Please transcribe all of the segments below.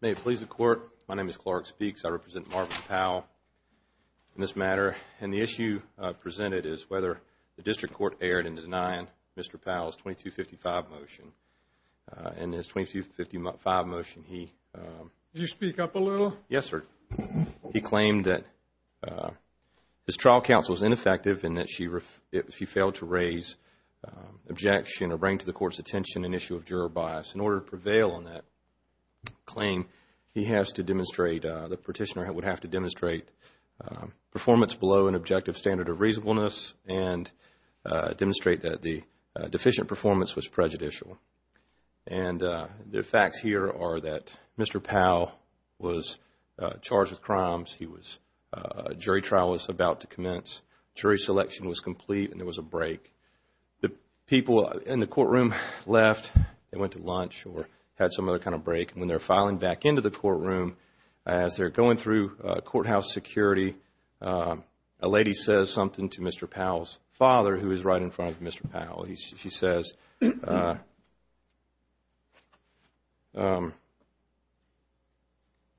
May it please the court, my name is Clark Speaks. I represent Marvin Powell in this matter and the issue presented is whether the district court erred in denying Mr. Powell's 2255 motion. In his 2255 motion he... Did you speak up a little? Yes sir. He claimed that his trial counsel was ineffective and that she failed to raise objection or bring to the court's attention an issue of claim. He has to demonstrate, the petitioner would have to demonstrate performance below an objective standard of reasonableness and demonstrate that the deficient performance was prejudicial. And the facts here are that Mr. Powell was charged with crimes, he was... jury trial was about to commence, jury selection was complete and there was a break. The people in the courtroom left, they went to lunch or had some other kind of break. When they're filing back into the courtroom, as they're going through courthouse security, a lady says something to Mr. Powell's father who is right in front of Mr. Powell. She says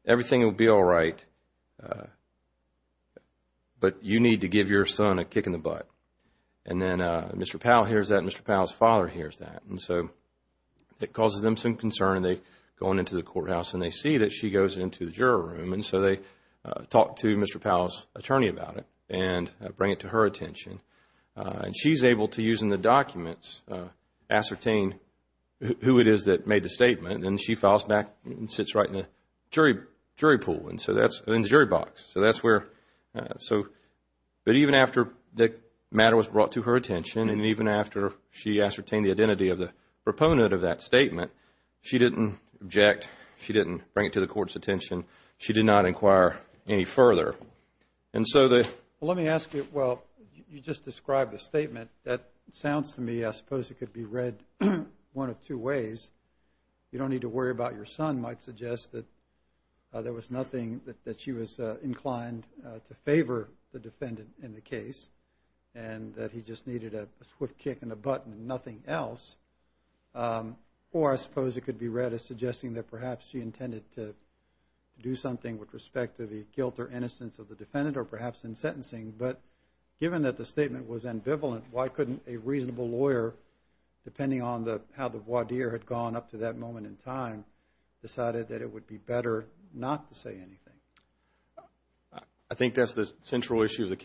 everything will be alright, but you need to give your son a kick in the butt. And Mr. Powell hears that, Mr. Powell's father hears that. And so it causes them some concern. They go on into the courthouse and they see that she goes into the juror room and so they talk to Mr. Powell's attorney about it and bring it to her attention. And she's able to, using the documents, ascertain who it is that made the statement. Then she files back and sits right in the jury pool and so that's... in the jury box. So that's where... So... But even after the And even after she ascertained the identity of the proponent of that statement, she didn't object, she didn't bring it to the court's attention, she did not inquire any further. And so the... Well, let me ask you, well, you just described the statement. That sounds to me, I suppose it could be read one of two ways. You don't need to worry about your son might suggest that there was nothing that she was inclined to favor the defendant in the case and that he just needed a swift kick and a button and nothing else. Or I suppose it could be read as suggesting that perhaps she intended to do something with respect to the guilt or innocence of the defendant or perhaps in sentencing. But given that the statement was ambivalent, why couldn't a reasonable lawyer, depending on the how the voir dire had gone up to that moment in time, decided that it would be better not to say anything? I think that's the central issue of the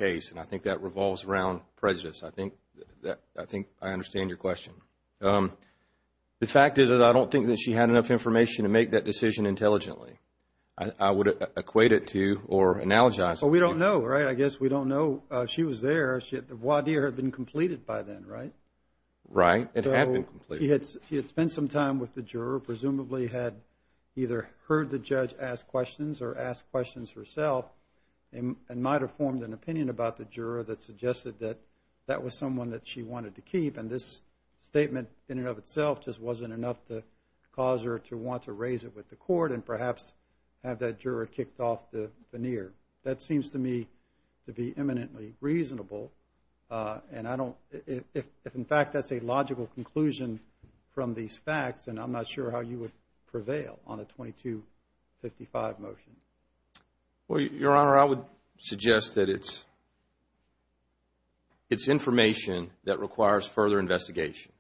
prejudice. I think I understand your question. The fact is that I don't think that she had enough information to make that decision intelligently. I would equate it to or analogize it. But we don't know, right? I guess we don't know. She was there. The voir dire had been completed by then, right? Right. It had been completed. She had spent some time with the juror, presumably had either heard the judge ask questions or ask questions herself and might have formed an opinion about the juror that suggested that that was someone that she wanted to keep. And this statement in and of itself just wasn't enough to cause her to want to raise it with the court and perhaps have that juror kicked off the veneer. That seems to me to be eminently reasonable. And I don't, if in fact that's a logical conclusion from these facts, then I'm not sure how you would It's information that requires further investigation.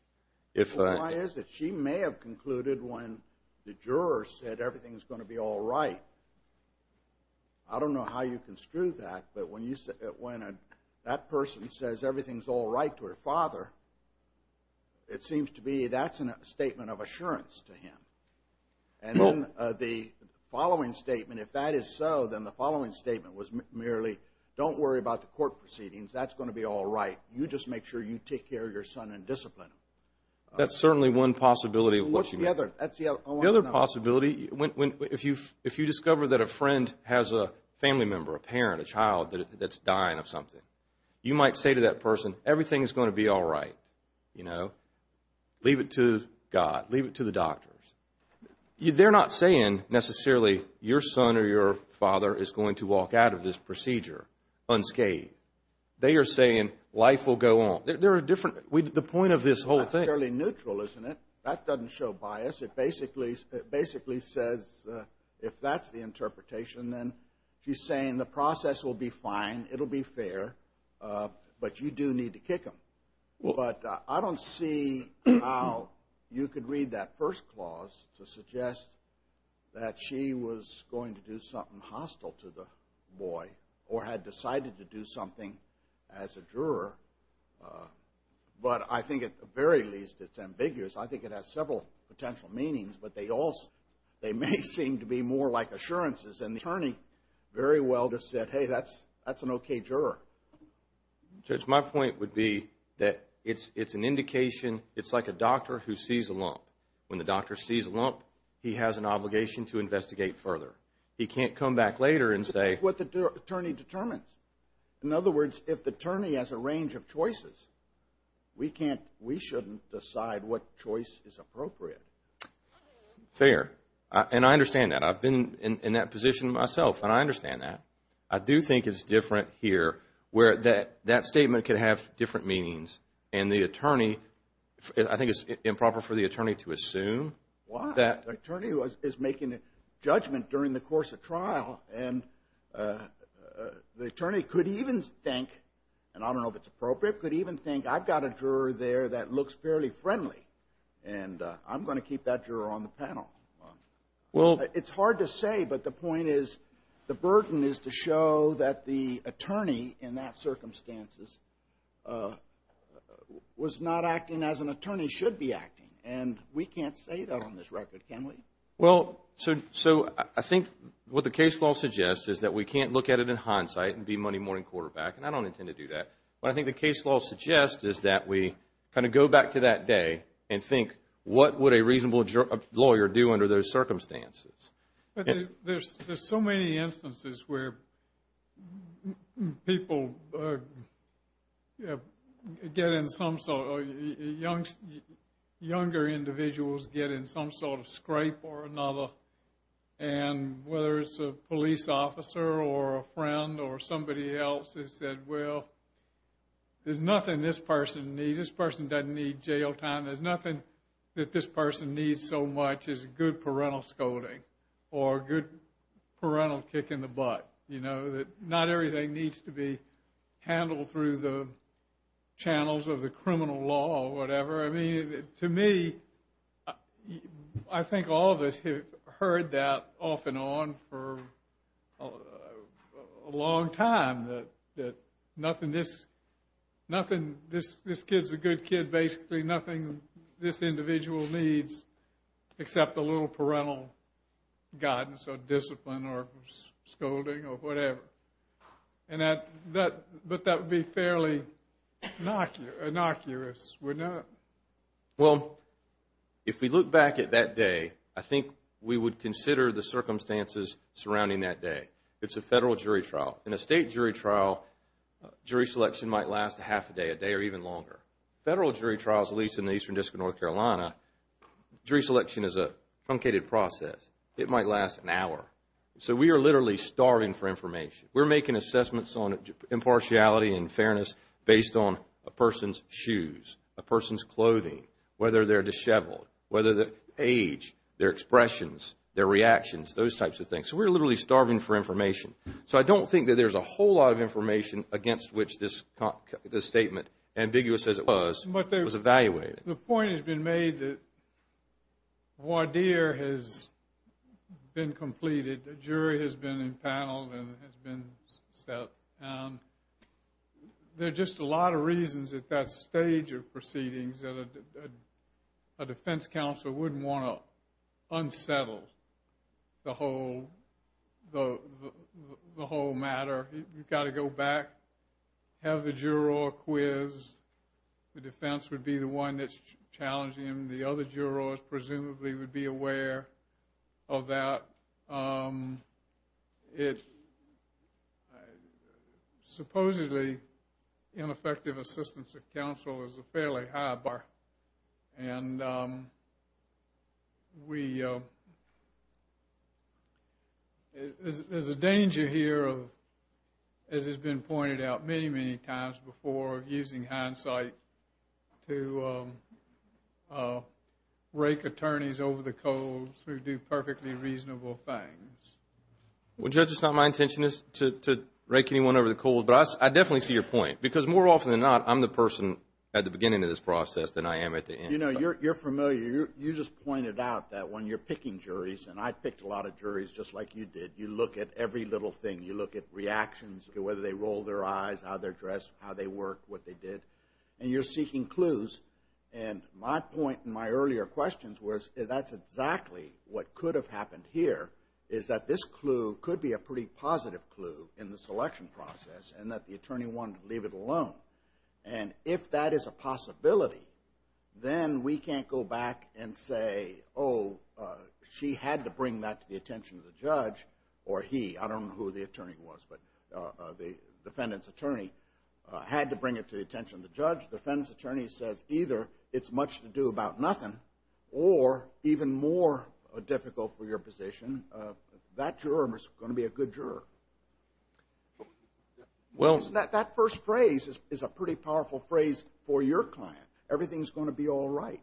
Why is it she may have concluded when the juror said everything is going to be all right. I don't know how you construe that, but when that person says everything's all right to her father, it seems to be that's a statement of assurance to him. And then the following statement, if that is so, then the following statement was court proceedings, that's going to be all right. You just make sure you take care of your son and discipline him. That's certainly one possibility. What's the other? The other possibility, if you discover that a friend has a family member, a parent, a child that's dying of something, you might say to that person, everything's going to be all right, you know, leave it to God, leave it to the doctors. They're not saying necessarily your son or your father is going to walk out of this procedure unscathed. They are saying life will go on. There are different, the point of this whole thing. That's fairly neutral, isn't it? That doesn't show bias. It basically says, if that's the interpretation, then she's saying the process will be fine, it'll be fair, but you do need to kick him. But I don't see how you could read that first clause to suggest that she was going to do something hostile to the boy or had decided to do something as a juror. But I think at the very least it's ambiguous. I think it has several potential meanings, but they may seem to be more like assurances. And the attorney very well just said, hey, that's an okay juror. Judge, my point would be that it's an indication, it's like a doctor who sees a lump. When the doctor sees a lump, he has an obligation to investigate further. He can't come back later and say... It's what the attorney determines. In other words, if the attorney has a range of choices, we shouldn't decide what choice is appropriate. Fair. And I understand that. I've been in that position myself, and I understand that. I do think it's different here, where that statement could have different meanings. And the attorney, I think it's improper for the attorney to make a judgment during the course of trial. And the attorney could even think, and I don't know if it's appropriate, could even think, I've got a juror there that looks fairly friendly, and I'm going to keep that juror on the panel. It's hard to say, but the point is, the burden is to show that the attorney in that circumstances was not acting as an attorney should be acting. And we can't say that on this record, can we? Well, so I think what the case law suggests is that we can't look at it in hindsight and be money morning quarterback, and I don't intend to do that. But I think the case law suggests is that we kind of go back to that day and think, what would a reasonable lawyer do under those circumstances? But there's so many instances where people get in some... younger individuals get in some sort of scrape or another, and whether it's a police officer or a friend or somebody else has said, well, there's nothing this person needs. This person doesn't need jail time. There's nothing that this person needs so much as good parental scolding or good parental kick in the butt. You know, that not everything needs to be handled through the channels of the criminal law or whatever. I mean, to me, I think all of us have heard that off and on for a long time. That nothing this... nothing this... this kid's a good kid basically. Nothing this individual needs except a little parental guidance or discipline or scolding or whatever. And that... that... but that would be fairly innocuous. We're not... Well, if we look back at that day, I think we would consider the circumstances surrounding that day. It's a federal jury trial. In a state jury trial, jury selection might last a half a day, a day or even longer. Federal jury trials, at least in the Eastern District of North Carolina, jury selection is a truncated process. It might last an hour. So we are literally starving for information. We're making assessments on impartiality and fairness based on a person's shoes, a person's clothing, whether they're disheveled, whether the age, their expressions, their reactions, those types of things. So we're literally starving for information. So I don't think that there's a whole lot of information against which this... this statement, ambiguous as it was, was evaluated. The point has been made that voir dire has been completed. The jury has been empaneled and has been set. There are just a lot of reasons at that stage of proceedings that a defense counsel wouldn't want to unsettle the whole... the whole matter. You've got to go back, have the juror quiz. The defense would be the one that's challenging him. The other jurors presumably would be aware of that. Supposedly, ineffective assistance of counsel is a fairly high bar. And we... there's a danger here of, as has been pointed out many, many times before, using hindsight to rake attorneys over the coals who do perfectly reasonable things. Well, Judge, it's not my intention to rake anyone over the coals, but I definitely see your point. Because more often than not, I'm the person at the beginning of this process than I am at the end. You know, you're familiar. You just pointed out that when you're picking juries, and I picked a lot of juries just like you did, you look at every little thing. You look at reactions, whether they rolled their eyes, how they're dressed, how they work, what they did. And you're seeking clues. And my point in my earlier questions was that's exactly what could have happened here, is that this clue could be a pretty positive clue in the selection process, and that the attorney wanted to leave it alone. And if that is a possibility, then we can't go back and say, oh, she had to bring that to the attention of the judge, or he. I don't know who the attorney was, but the defendant's attorney had to bring it to the attention of the judge. The defendant's attorney says, either it's much to do about nothing, or even more difficult for your position, that juror is going to be a good juror. Well, that first phrase is a pretty powerful phrase for your client. Everything's going to be all right.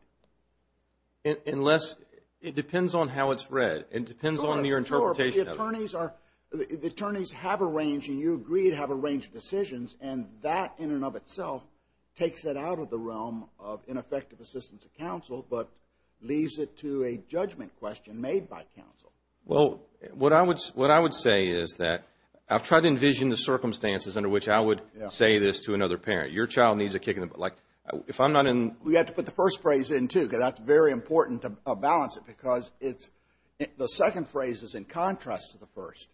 Unless, it depends on how it's read. It depends on your interpretation. Sure, but the attorneys have a range, and you agree to have a range of decisions, and that in and of itself takes it out of the realm of ineffective assistance of counsel, but leaves it to a judgment question made by counsel. Well, what I would say is that I've tried to envision the circumstances under which I would say this to another parent. Your child needs a kick in the butt. Like, if I'm not in... We have to put the first phrase in, too, because that's very important to balance it, because it's... The second phrase is in contrast to the first.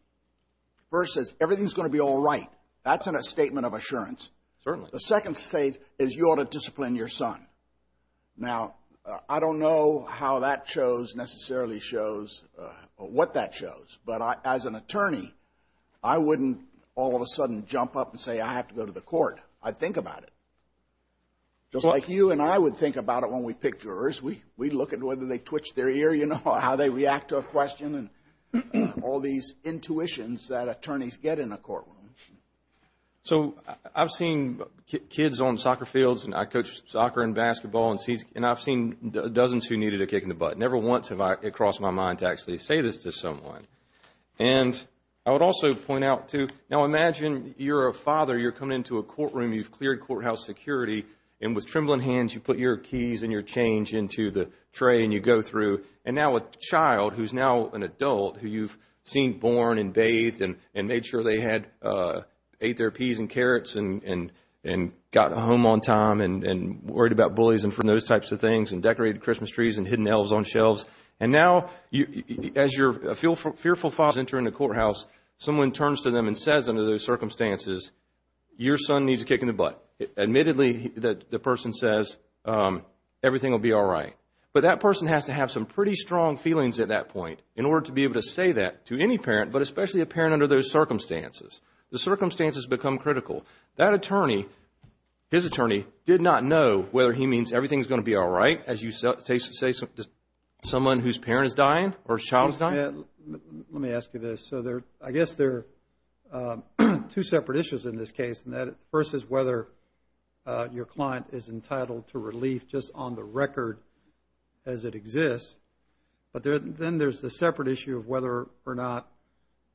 First says, everything's going to be all right. That's in a statement of assurance. Certainly. The second state is, you ought to discipline your son. Now, I don't know how that shows, necessarily shows, or what that shows, but as an attorney, I wouldn't all of a sudden jump up and say, I have to go to the court. I'd think about it. Just like you and I would think about it when we pick jurors. We look at whether they twitch their ear, you know, or how they react to a question, and all these intuitions that attorneys get in a courtroom. So, I've seen kids on soccer fields, and I coach soccer and basketball, and I've seen dozens who needed a kick in the butt. Never once have it crossed my mind to actually say this to someone. And I would also point out, too... Now, imagine you're a father, you're coming into a courtroom, you've cleared courthouse security, and with trembling hands, you put your keys and your change into the tray, and you go through. And now, a child who's now an adult, who you've seen born and bathed, and made sure they ate their peas and carrots, and got home on time, and worried about bullies, and those types of things, and decorated Christmas trees, and hidden elves on shelves. And now, as your fearful father is entering the courthouse, someone turns to them and says, under those circumstances, your son needs a kick in the butt. Admittedly, the person says, everything will be all right. But that person has to have some pretty strong feelings at that point, in order to be able to say that to any parent, but especially a parent under those circumstances. The circumstances become critical. That attorney, his attorney, did not know whether he means everything's going to be all right, as you say to someone whose parent is dying, or child is dying? Let me ask you this. So, I guess there are two separate issues in this case, versus whether your client is entitled to relief, just on the record as it exists. But then there's the separate issue of whether or not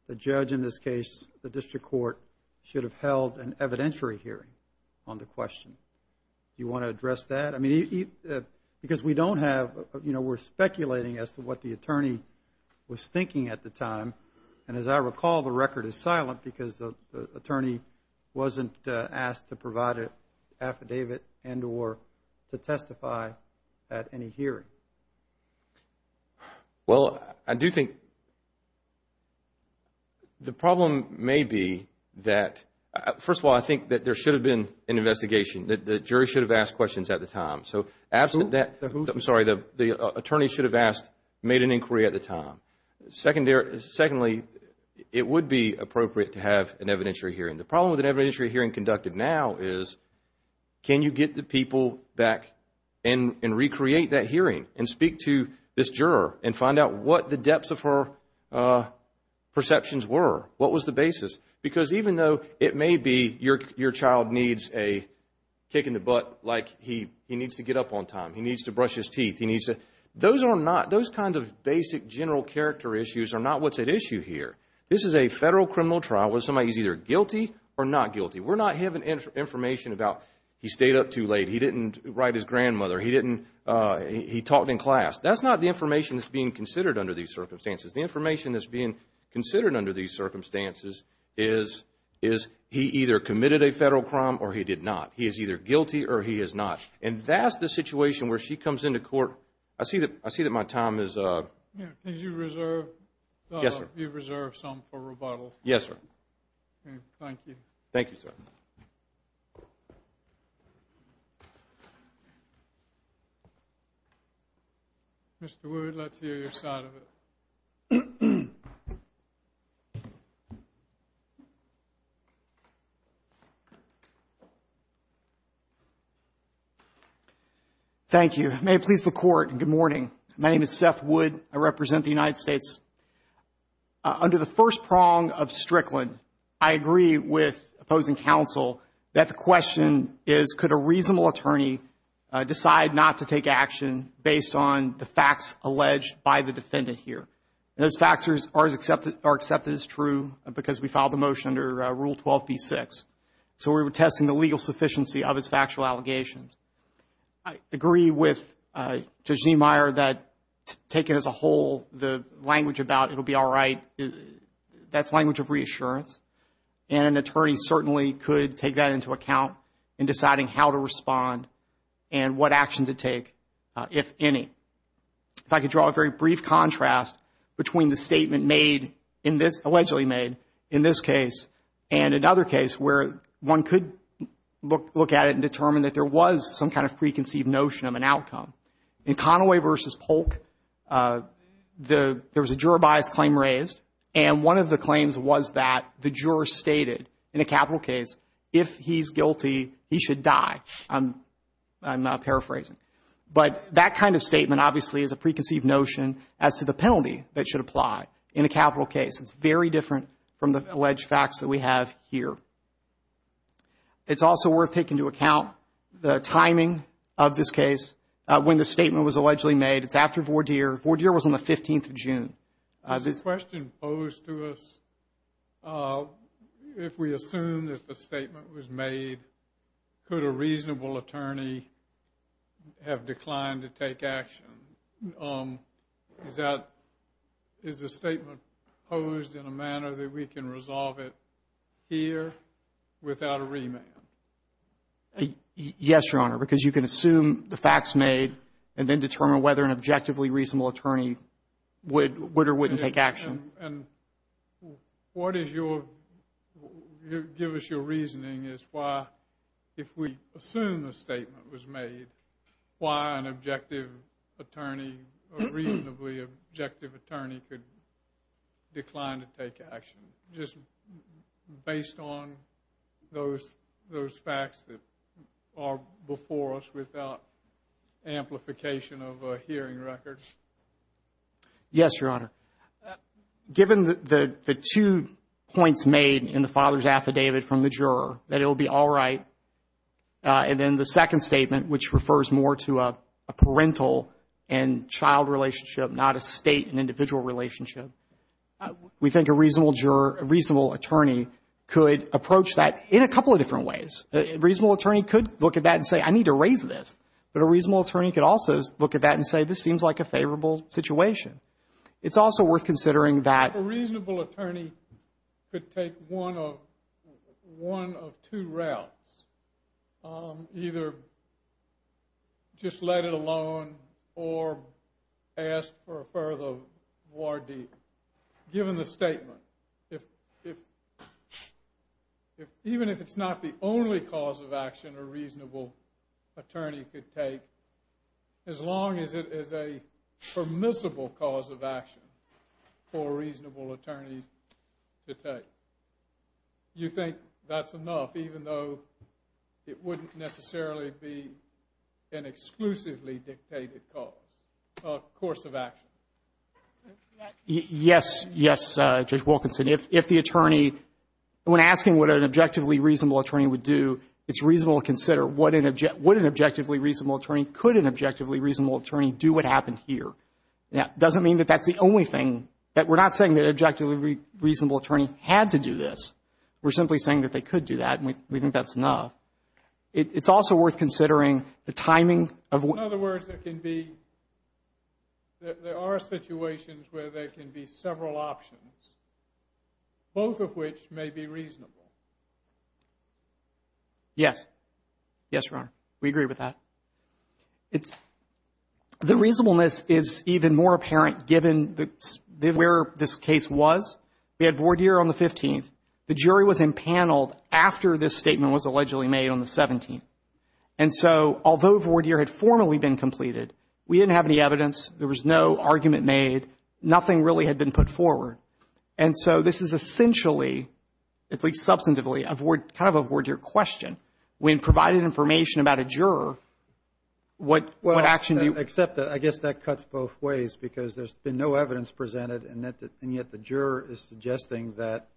the judge, in this case, the district court, should have held an evidentiary hearing on the question. You want to address that? I mean, because we don't have, you know, we're speculating as to what the attorney was thinking at the time. And as I recall, the record is silent, because the attorney wasn't asked to provide an affidavit, and or to testify at any hearing. Well, I do think the problem may be that, first of all, I think that there should have been an investigation, that the jury should have asked questions at the time. So, absent that, I'm sorry, the attorney should have asked, made an inquiry at the time. Secondly, it would be appropriate to have an evidentiary hearing. The problem with an evidentiary hearing conducted now is, can you get the people back and recreate that hearing, and speak to this juror, and find out what the depths of her perceptions were? What was the basis? Because even though it may be your child needs a kick in the butt, Those are not, those kind of basic general character issues are not what's at issue here. This is a federal criminal trial, where somebody is either guilty or not guilty. We're not having information about, he stayed up too late, he didn't write his grandmother, he didn't, he talked in class. That's not the information that's being considered under these circumstances. The information that's being considered under these circumstances is, he either committed a federal crime or he did not. He is either guilty or he is not. And that's the situation where she comes into court. I see that my time is up. Yeah, did you reserve some for rebuttal? Yes, sir. Okay, thank you. Thank you, sir. Mr. Wood, let's hear your side of it. Thank you. May it please the court, good morning. My name is Seth Wood. I represent the United States. Under the first prong of Strickland, I agree with opposing counsel that the question is, could a reasonable attorney decide not to take action based on the facts alleged by the defendant here? Those factors are accepted as true because we filed the motion under Rule 12b-6. So we were testing the legal sufficiency of his factual allegations. I agree with Judge Niemeyer that taken as a whole, the language about, it'll be all right, that's language of reassurance. And an attorney certainly could take that into account in deciding how to respond and what action to take, if any. If I could draw a very brief contrast between the statement made in this, allegedly made in this case and another case where one could look at it and determine that there was some kind of preconceived notion of an outcome. In Conaway v. Polk, there was a juror bias claim raised. And one of the claims was that the juror stated, in a capital case, if he's guilty, he should die. I'm paraphrasing. But that kind of statement, obviously, is a preconceived notion as to the penalty that should apply in a capital case. It's very different from the alleged facts that we have here. It's also worth taking into account the timing of this case, when the statement was allegedly made. It's after Vordeer. Vordeer was on the 15th of June. There's a question posed to us. If we assume that the statement was made, could a reasonable attorney have declined to take action? Is that, is the statement posed in a manner that we can resolve it here without a remand? Yes, Your Honor, because you can assume the facts made and then determine whether an objectively reasonable attorney would or wouldn't take action. And what is your, give us your reasoning as to why, if we assume the statement was made, why an objective attorney, a reasonably objective attorney could decline to take action, just based on those facts that are before us without amplification of a hearing record? Yes, Your Honor. Given the two points made in the father's affidavit from the juror, that it will be all right, and then the second statement, which refers more to a parental and child relationship, not a state and individual relationship, we think a reasonable juror, a reasonable attorney could approach that in a couple of different ways. A reasonable attorney could look at that and say, I need to raise this. But a reasonable attorney could also look at that and say, this seems like a favorable situation. It's also worth considering that- A reasonable attorney could take one of two routes. Either just let it alone or ask for a further war deed. Given the statement, even if it's not the only cause of action a reasonable attorney could take, as long as it is a permissible cause of action for a reasonable attorney to take. You think that's enough, even though it wouldn't necessarily be an exclusively dictated cause, course of action? Yes, yes, Judge Wilkinson. If the attorney, when asking what an objectively reasonable attorney would do, it's reasonable to consider, would an objectively reasonable attorney, could an objectively reasonable attorney do what happened here? That doesn't mean that that's the only thing, that we're not saying that an objectively reasonable attorney had to do this. We're simply saying that they could do that, and we think that's enough. It's also worth considering the timing of- In other words, there can be, there are situations where there can be several options, both of which may be reasonable. Yes. Yes, Your Honor. We agree with that. The reasonableness is even more apparent given where this case was. We had voir dire on the 15th. The jury was impaneled after this statement was allegedly made on the 17th. And so, although voir dire had formally been completed, we didn't have any evidence. There was no argument made. Nothing really had been put forward. And so, this is essentially, at least substantively, kind of a voir dire question. When provided information about a juror, what action do you- Except that, I guess that cuts both ways because there's been no evidence presented, and yet the juror is suggesting that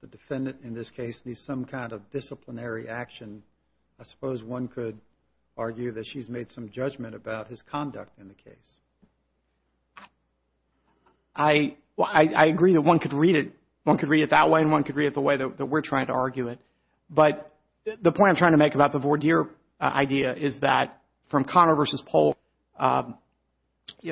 the defendant, in this case, needs some kind of disciplinary action. I suppose one could argue that she's made some judgment about his conduct in the case. I agree that one could read it, one could read it that way, and one could read it the way that we're trying to argue it. But the point I'm trying to make about the voir dire idea is that from Connor versus Polk,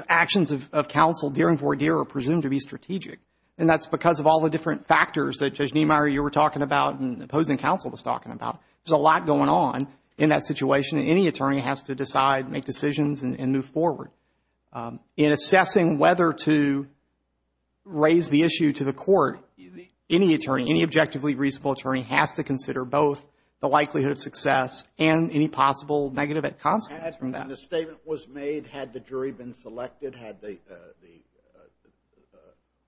actions of counsel during voir dire are presumed to be strategic. And that's because of all the different factors that Judge Niemeyer, you were talking about, and opposing counsel was talking about. There's a lot going on in that situation, and any attorney has to decide, make decisions, and move forward. In assessing whether to raise the issue to the court, any attorney, any objectively reasonable attorney has to consider both the likelihood of success and any possible negative consequences from that. When the statement was made, had the jury been selected,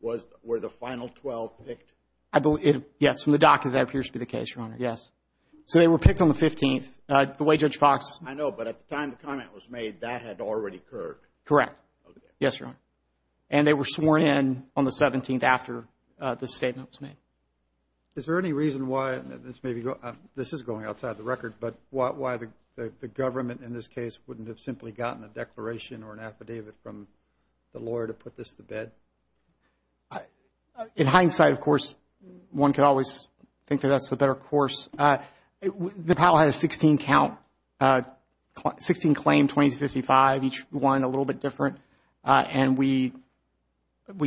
were the final 12 picked? I believe, yes, from the docket, that appears to be the case, Your Honor, yes. So they were picked on the 15th, the way Judge Fox. I know, but at the time the comment was made, that had already occurred. Correct, yes, Your Honor. And they were sworn in on the 17th after the statement was made. Is there any reason why, this is going outside the record, but why the government in this case wouldn't have simply gotten a declaration or an affidavit from the lawyer to put this to bed? In hindsight, of course, one could always think that that's the better course. The panel has 16 claim, 20 to 55, each one a little bit different, and we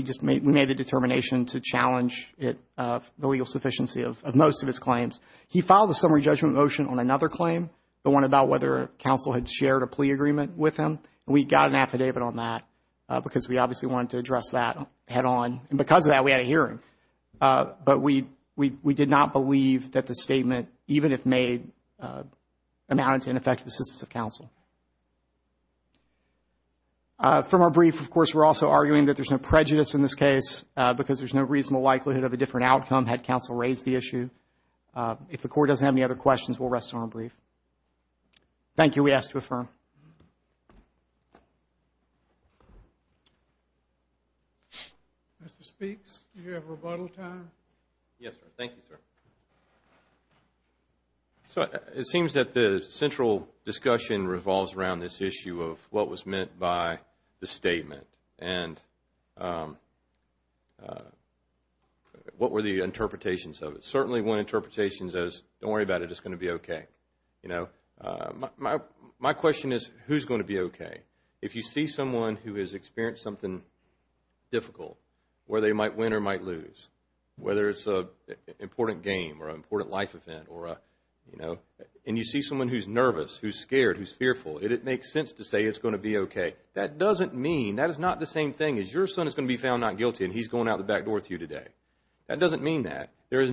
just made the determination to challenge the legal sufficiency of most of his claims. He filed a summary judgment motion on another claim, the one about whether counsel had shared a plea agreement with him. We got an affidavit on that because we obviously wanted to address that head on. And because of that, we had a hearing. But we did not believe that the statement, even if made, amounted to ineffective assistance of counsel. From our brief, of course, we're also arguing that there's no prejudice in this case because there's no reasonable likelihood of a different outcome had counsel raised the issue. If the court doesn't have any other questions, we'll rest on our brief. Thank you, we ask to affirm. Mr. Speaks, do you have rebuttal time? Yes, sir. Thank you, sir. So it seems that the central discussion revolves around this issue of what was meant by the statement and what were the interpretations of it. Certainly one interpretation is, don't worry about it, it's going to be okay. You know, my question is, who's going to be okay? If you see someone who has experienced something difficult, where they might win or might lose, whether it's an important game or an important life event, or, you know, and you see someone who's nervous, who's scared, who's fearful, it makes sense to say it's going to be okay. That doesn't mean, that is not the same thing as your son is going to be found not guilty and he's going out the back door with you today. That doesn't mean that. There's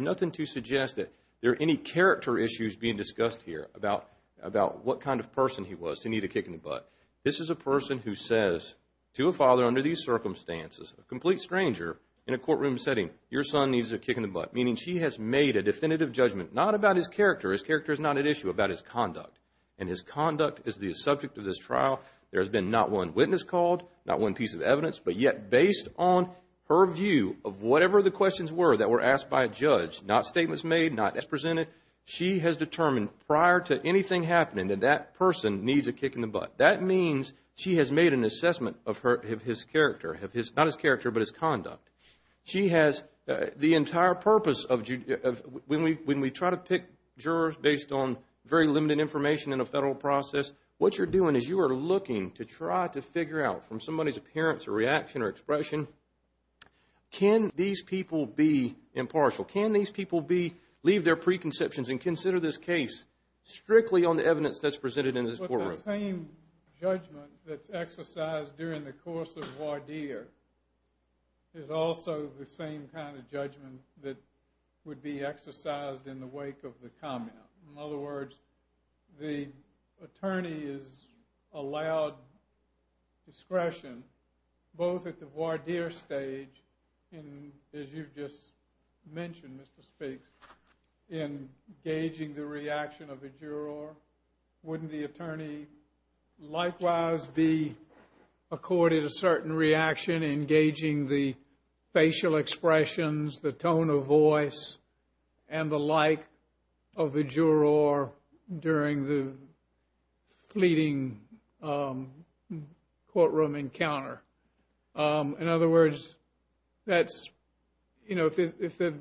nothing to suggest that there are any character issues being discussed here about what kind of person he was to need a kick in the butt. This is a person who says to a father under these circumstances, a complete stranger in a courtroom setting, your son needs a kick in the butt. Meaning she has made a definitive judgment, not about his character, his character is not at issue, about his conduct. And his conduct is the subject of this trial. There has been not one witness called, not one piece of evidence, but yet based on her view of whatever the questions were that were asked by a judge, not statements made, not as presented, she has determined prior to anything happening that that person needs a kick in the butt. That means she has made an assessment of his character, not his character, but his conduct. She has the entire purpose of, when we try to pick jurors based on very limited information in a federal process, what you're doing is you are looking to try to figure out from somebody's appearance or reaction or expression, can these people be impartial? Can these people leave their preconceptions and consider this case strictly on the evidence that's presented in this courtroom? But the same judgment that's exercised during the course of voir dire is also the same kind of judgment that would be exercised in the wake of the comment. In other words, the attorney is allowed discretion both at the voir dire stage and as you've just mentioned, Mr. Speaks, in gauging the reaction of the juror. Wouldn't the attorney likewise be accorded a certain reaction in gauging the facial expressions, the tone of voice, and the like of the juror during the fleeting courtroom encounter? In other words, if the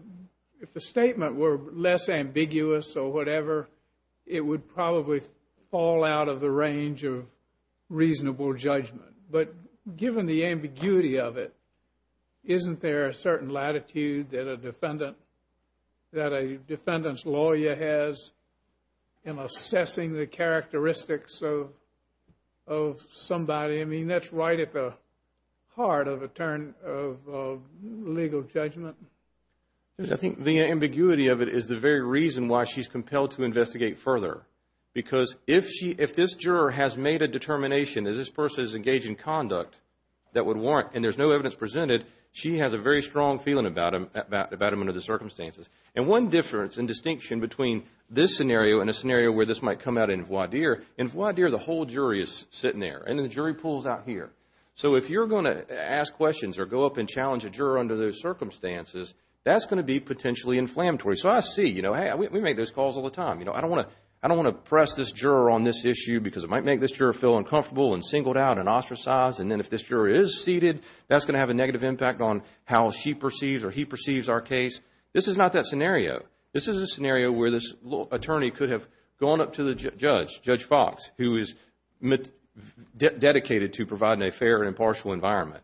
statement were less ambiguous or whatever, it would probably fall out of the range of reasonable judgment. But given the ambiguity of it, isn't there a certain latitude that a defendant's lawyer has in assessing the characteristics of somebody? I mean, that's right at the heart of a turn of legal judgment. I think the ambiguity of it is the very reason why she's compelled to investigate further. Because if this juror has made a determination that this person is engaged in conduct that would warrant and there's no evidence presented, she has a very strong feeling about him under the circumstances. And one difference and distinction between this scenario and a scenario where this might come out in voir dire, in voir dire, the whole jury is sitting there and the jury pool is out here. So if you're going to ask questions or go up and challenge a juror under those circumstances, that's going to be potentially inflammatory. So I see, hey, we make those calls all the time. I don't want to press this juror on this issue because it might make this juror feel uncomfortable and singled out and ostracized. And then if this juror is seated, that's going to have a negative impact on how she perceives or he perceives our case. This is not that scenario. This is a scenario where this attorney could have gone up to the judge, Judge Fox, who is dedicated to providing a fair and impartial environment.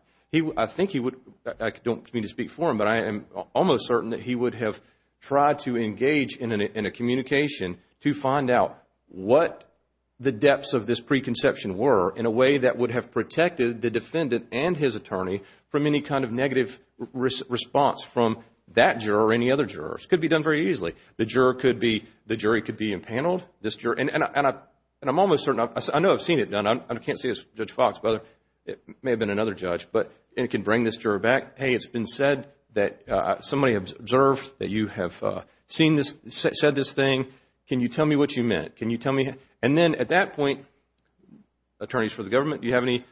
I think he would, I don't mean to speak for him, but I am almost certain that he would have tried to engage in a communication to find out what the depths of this preconception were in a way that would have protected the defendant and his attorney from any kind of negative response from that juror or any other jurors. It could be done very easily. The juror could be, the jury could be impaneled. This juror, and I'm almost certain, I know I've seen it done. I can't say it's Judge Fox, but it may have been another judge, but it can bring this juror back. Hey, it's been said that somebody observed that you have seen this, said this thing. Can you tell me what you meant? Can you tell me? And then at that point, attorneys for the government, do you have any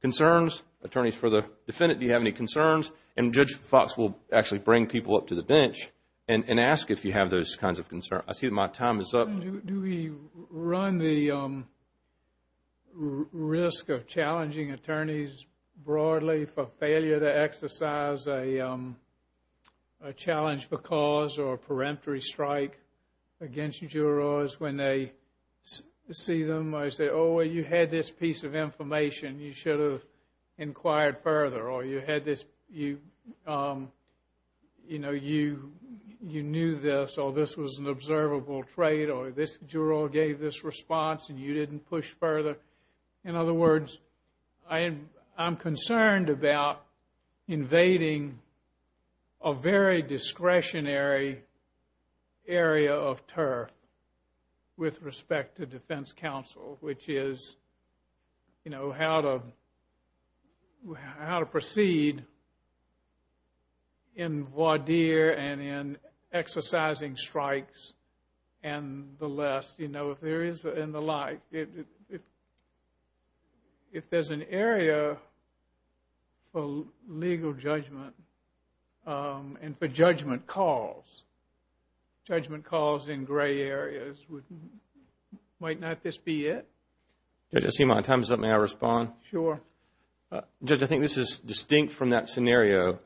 concerns? Attorneys for the defendant, do you have any concerns? And Judge Fox will actually bring people up to the bench and ask if you have those kinds of concerns. I see my time is up. Do we run the risk of challenging attorneys broadly for failure to exercise a challenge for cause or a peremptory strike against jurors when they see them? I say, oh, you had this piece of information. You should have inquired further. Or you had this, you know, you knew this, or this was an observable trait, or this juror gave this response and you didn't push further. In other words, I am concerned about invading a very discretionary area of turf with respect to defense counsel, which is, you know, how to, how to proceed in voir dire and in exercising strikes and the less, you know, if there is, and the like. If there is an area for legal judgment and for judgment calls, judgment calls in gray areas, might not this be it? Judge, I see my time is up. May I respond? Sure. Judge, I think this is distinct from that scenario.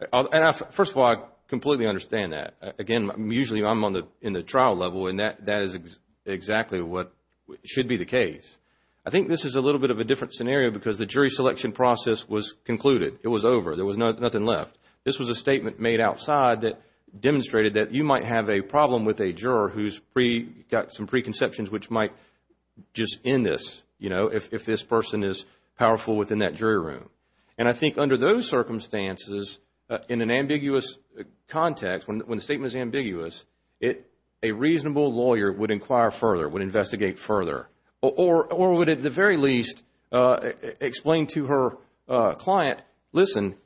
First of all, I completely understand that. Again, usually, I am on the, in the trial level and that is exactly what should be the case. I think this is a little bit of a different scenario because the jury selection process was concluded. It was over. There was nothing left. This was a statement made outside that demonstrated that you might have a problem with a juror who has pre, got some preconceptions which might just end this, you know, if this person is powerful within that jury room. And I think under those circumstances, in an ambiguous context, when the statement is ambiguous, it, a reasonable lawyer would inquire further, would investigate further or would, at the very least, explain to her client, listen,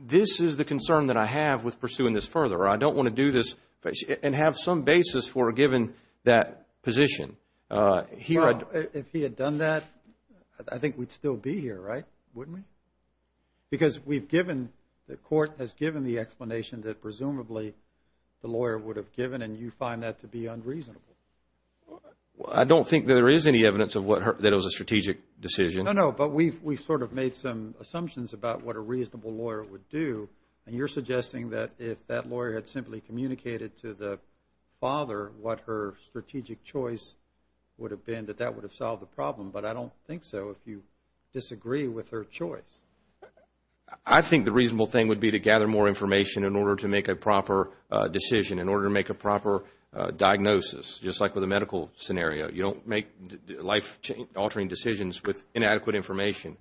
this is the concern that I have with pursuing this further. I don't want to do this and have some basis for a given that position. Well, if he had done that, I think we would still be here, right? Wouldn't we? Because we have given, the court has given the explanation that presumably the lawyer would have given and you find that to be unreasonable. Well, I don't think there is any evidence of what her, that it was a strategic decision. No, no, but we've, we've sort of made some assumptions about what a reasonable lawyer would do and you're suggesting that if that lawyer had simply communicated to the father what her strategic choice would have been that that would have solved the problem. But I don't think so if you disagree with her choice. I think the reasonable thing would be to gather more information in order to make a proper decision, in order to make a proper diagnosis, just like with a medical scenario. You don't make life altering decisions with inadequate information.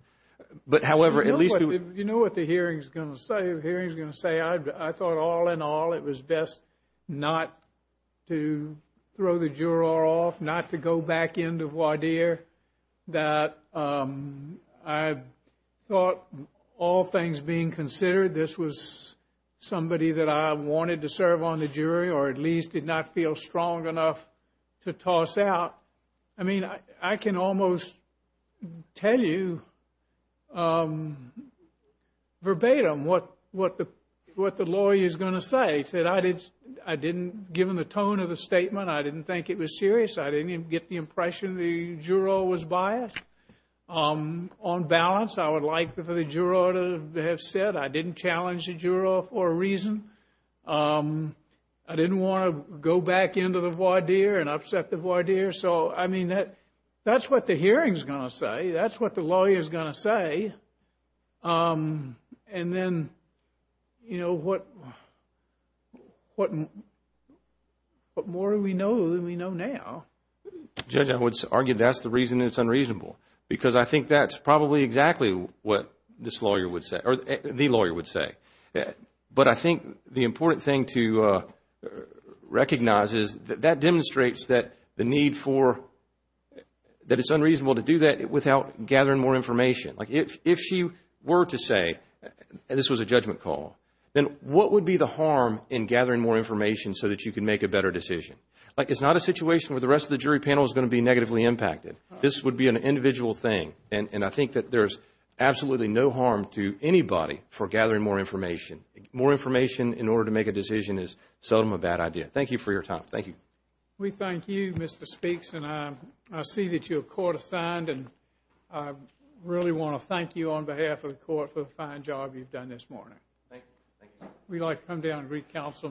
But however, at least we would... You know what, you know what the hearing is going to say, the hearing is going to say, I thought all in all into voir dire that I thought all things being considered this was somebody that I was going to go back to the jury and I was going to go back to the jury because I wanted to serve on the jury or at least did not feel strong enough to toss out. I mean, I can almost tell you verbatim what the lawyer is going to say. He said, I didn't, given the tone of the statement, I didn't think it was serious. I didn't even get the impression the juror was biased. On balance, I would like for the juror to have said I didn't challenge the juror for a reason I didn't want to go back into the voir dire and upset the voir dire. So, I mean, that's what the hearing is going to say. That's what the lawyer is going to say. And then, you know, what more do we know than we know now? Judge, I would argue that's the reason it's unreasonable because I think that's probably exactly what this lawyer would say or the lawyer would say. But I think the important thing to recognize is that that demonstrates that the need for that it's unreasonable to do that without gathering more information. Like, if she were to say this was a judgment call, then what would be the harm in gathering more information so that you can make a better decision? Like, it's not a situation where the rest of the jury panel is going to be negatively impacted. This would be an individual thing. And I think that there's absolutely no harm to anybody for gathering more information. More information in order to make a decision is seldom a bad idea. Thank you for your time. Thank you. We thank you, Mr. Speaks, and I see that you're court-assigned and I really want to thank you on behalf of the court for the fine job you've done this morning. Thank you. We'd like to come down and re-counsel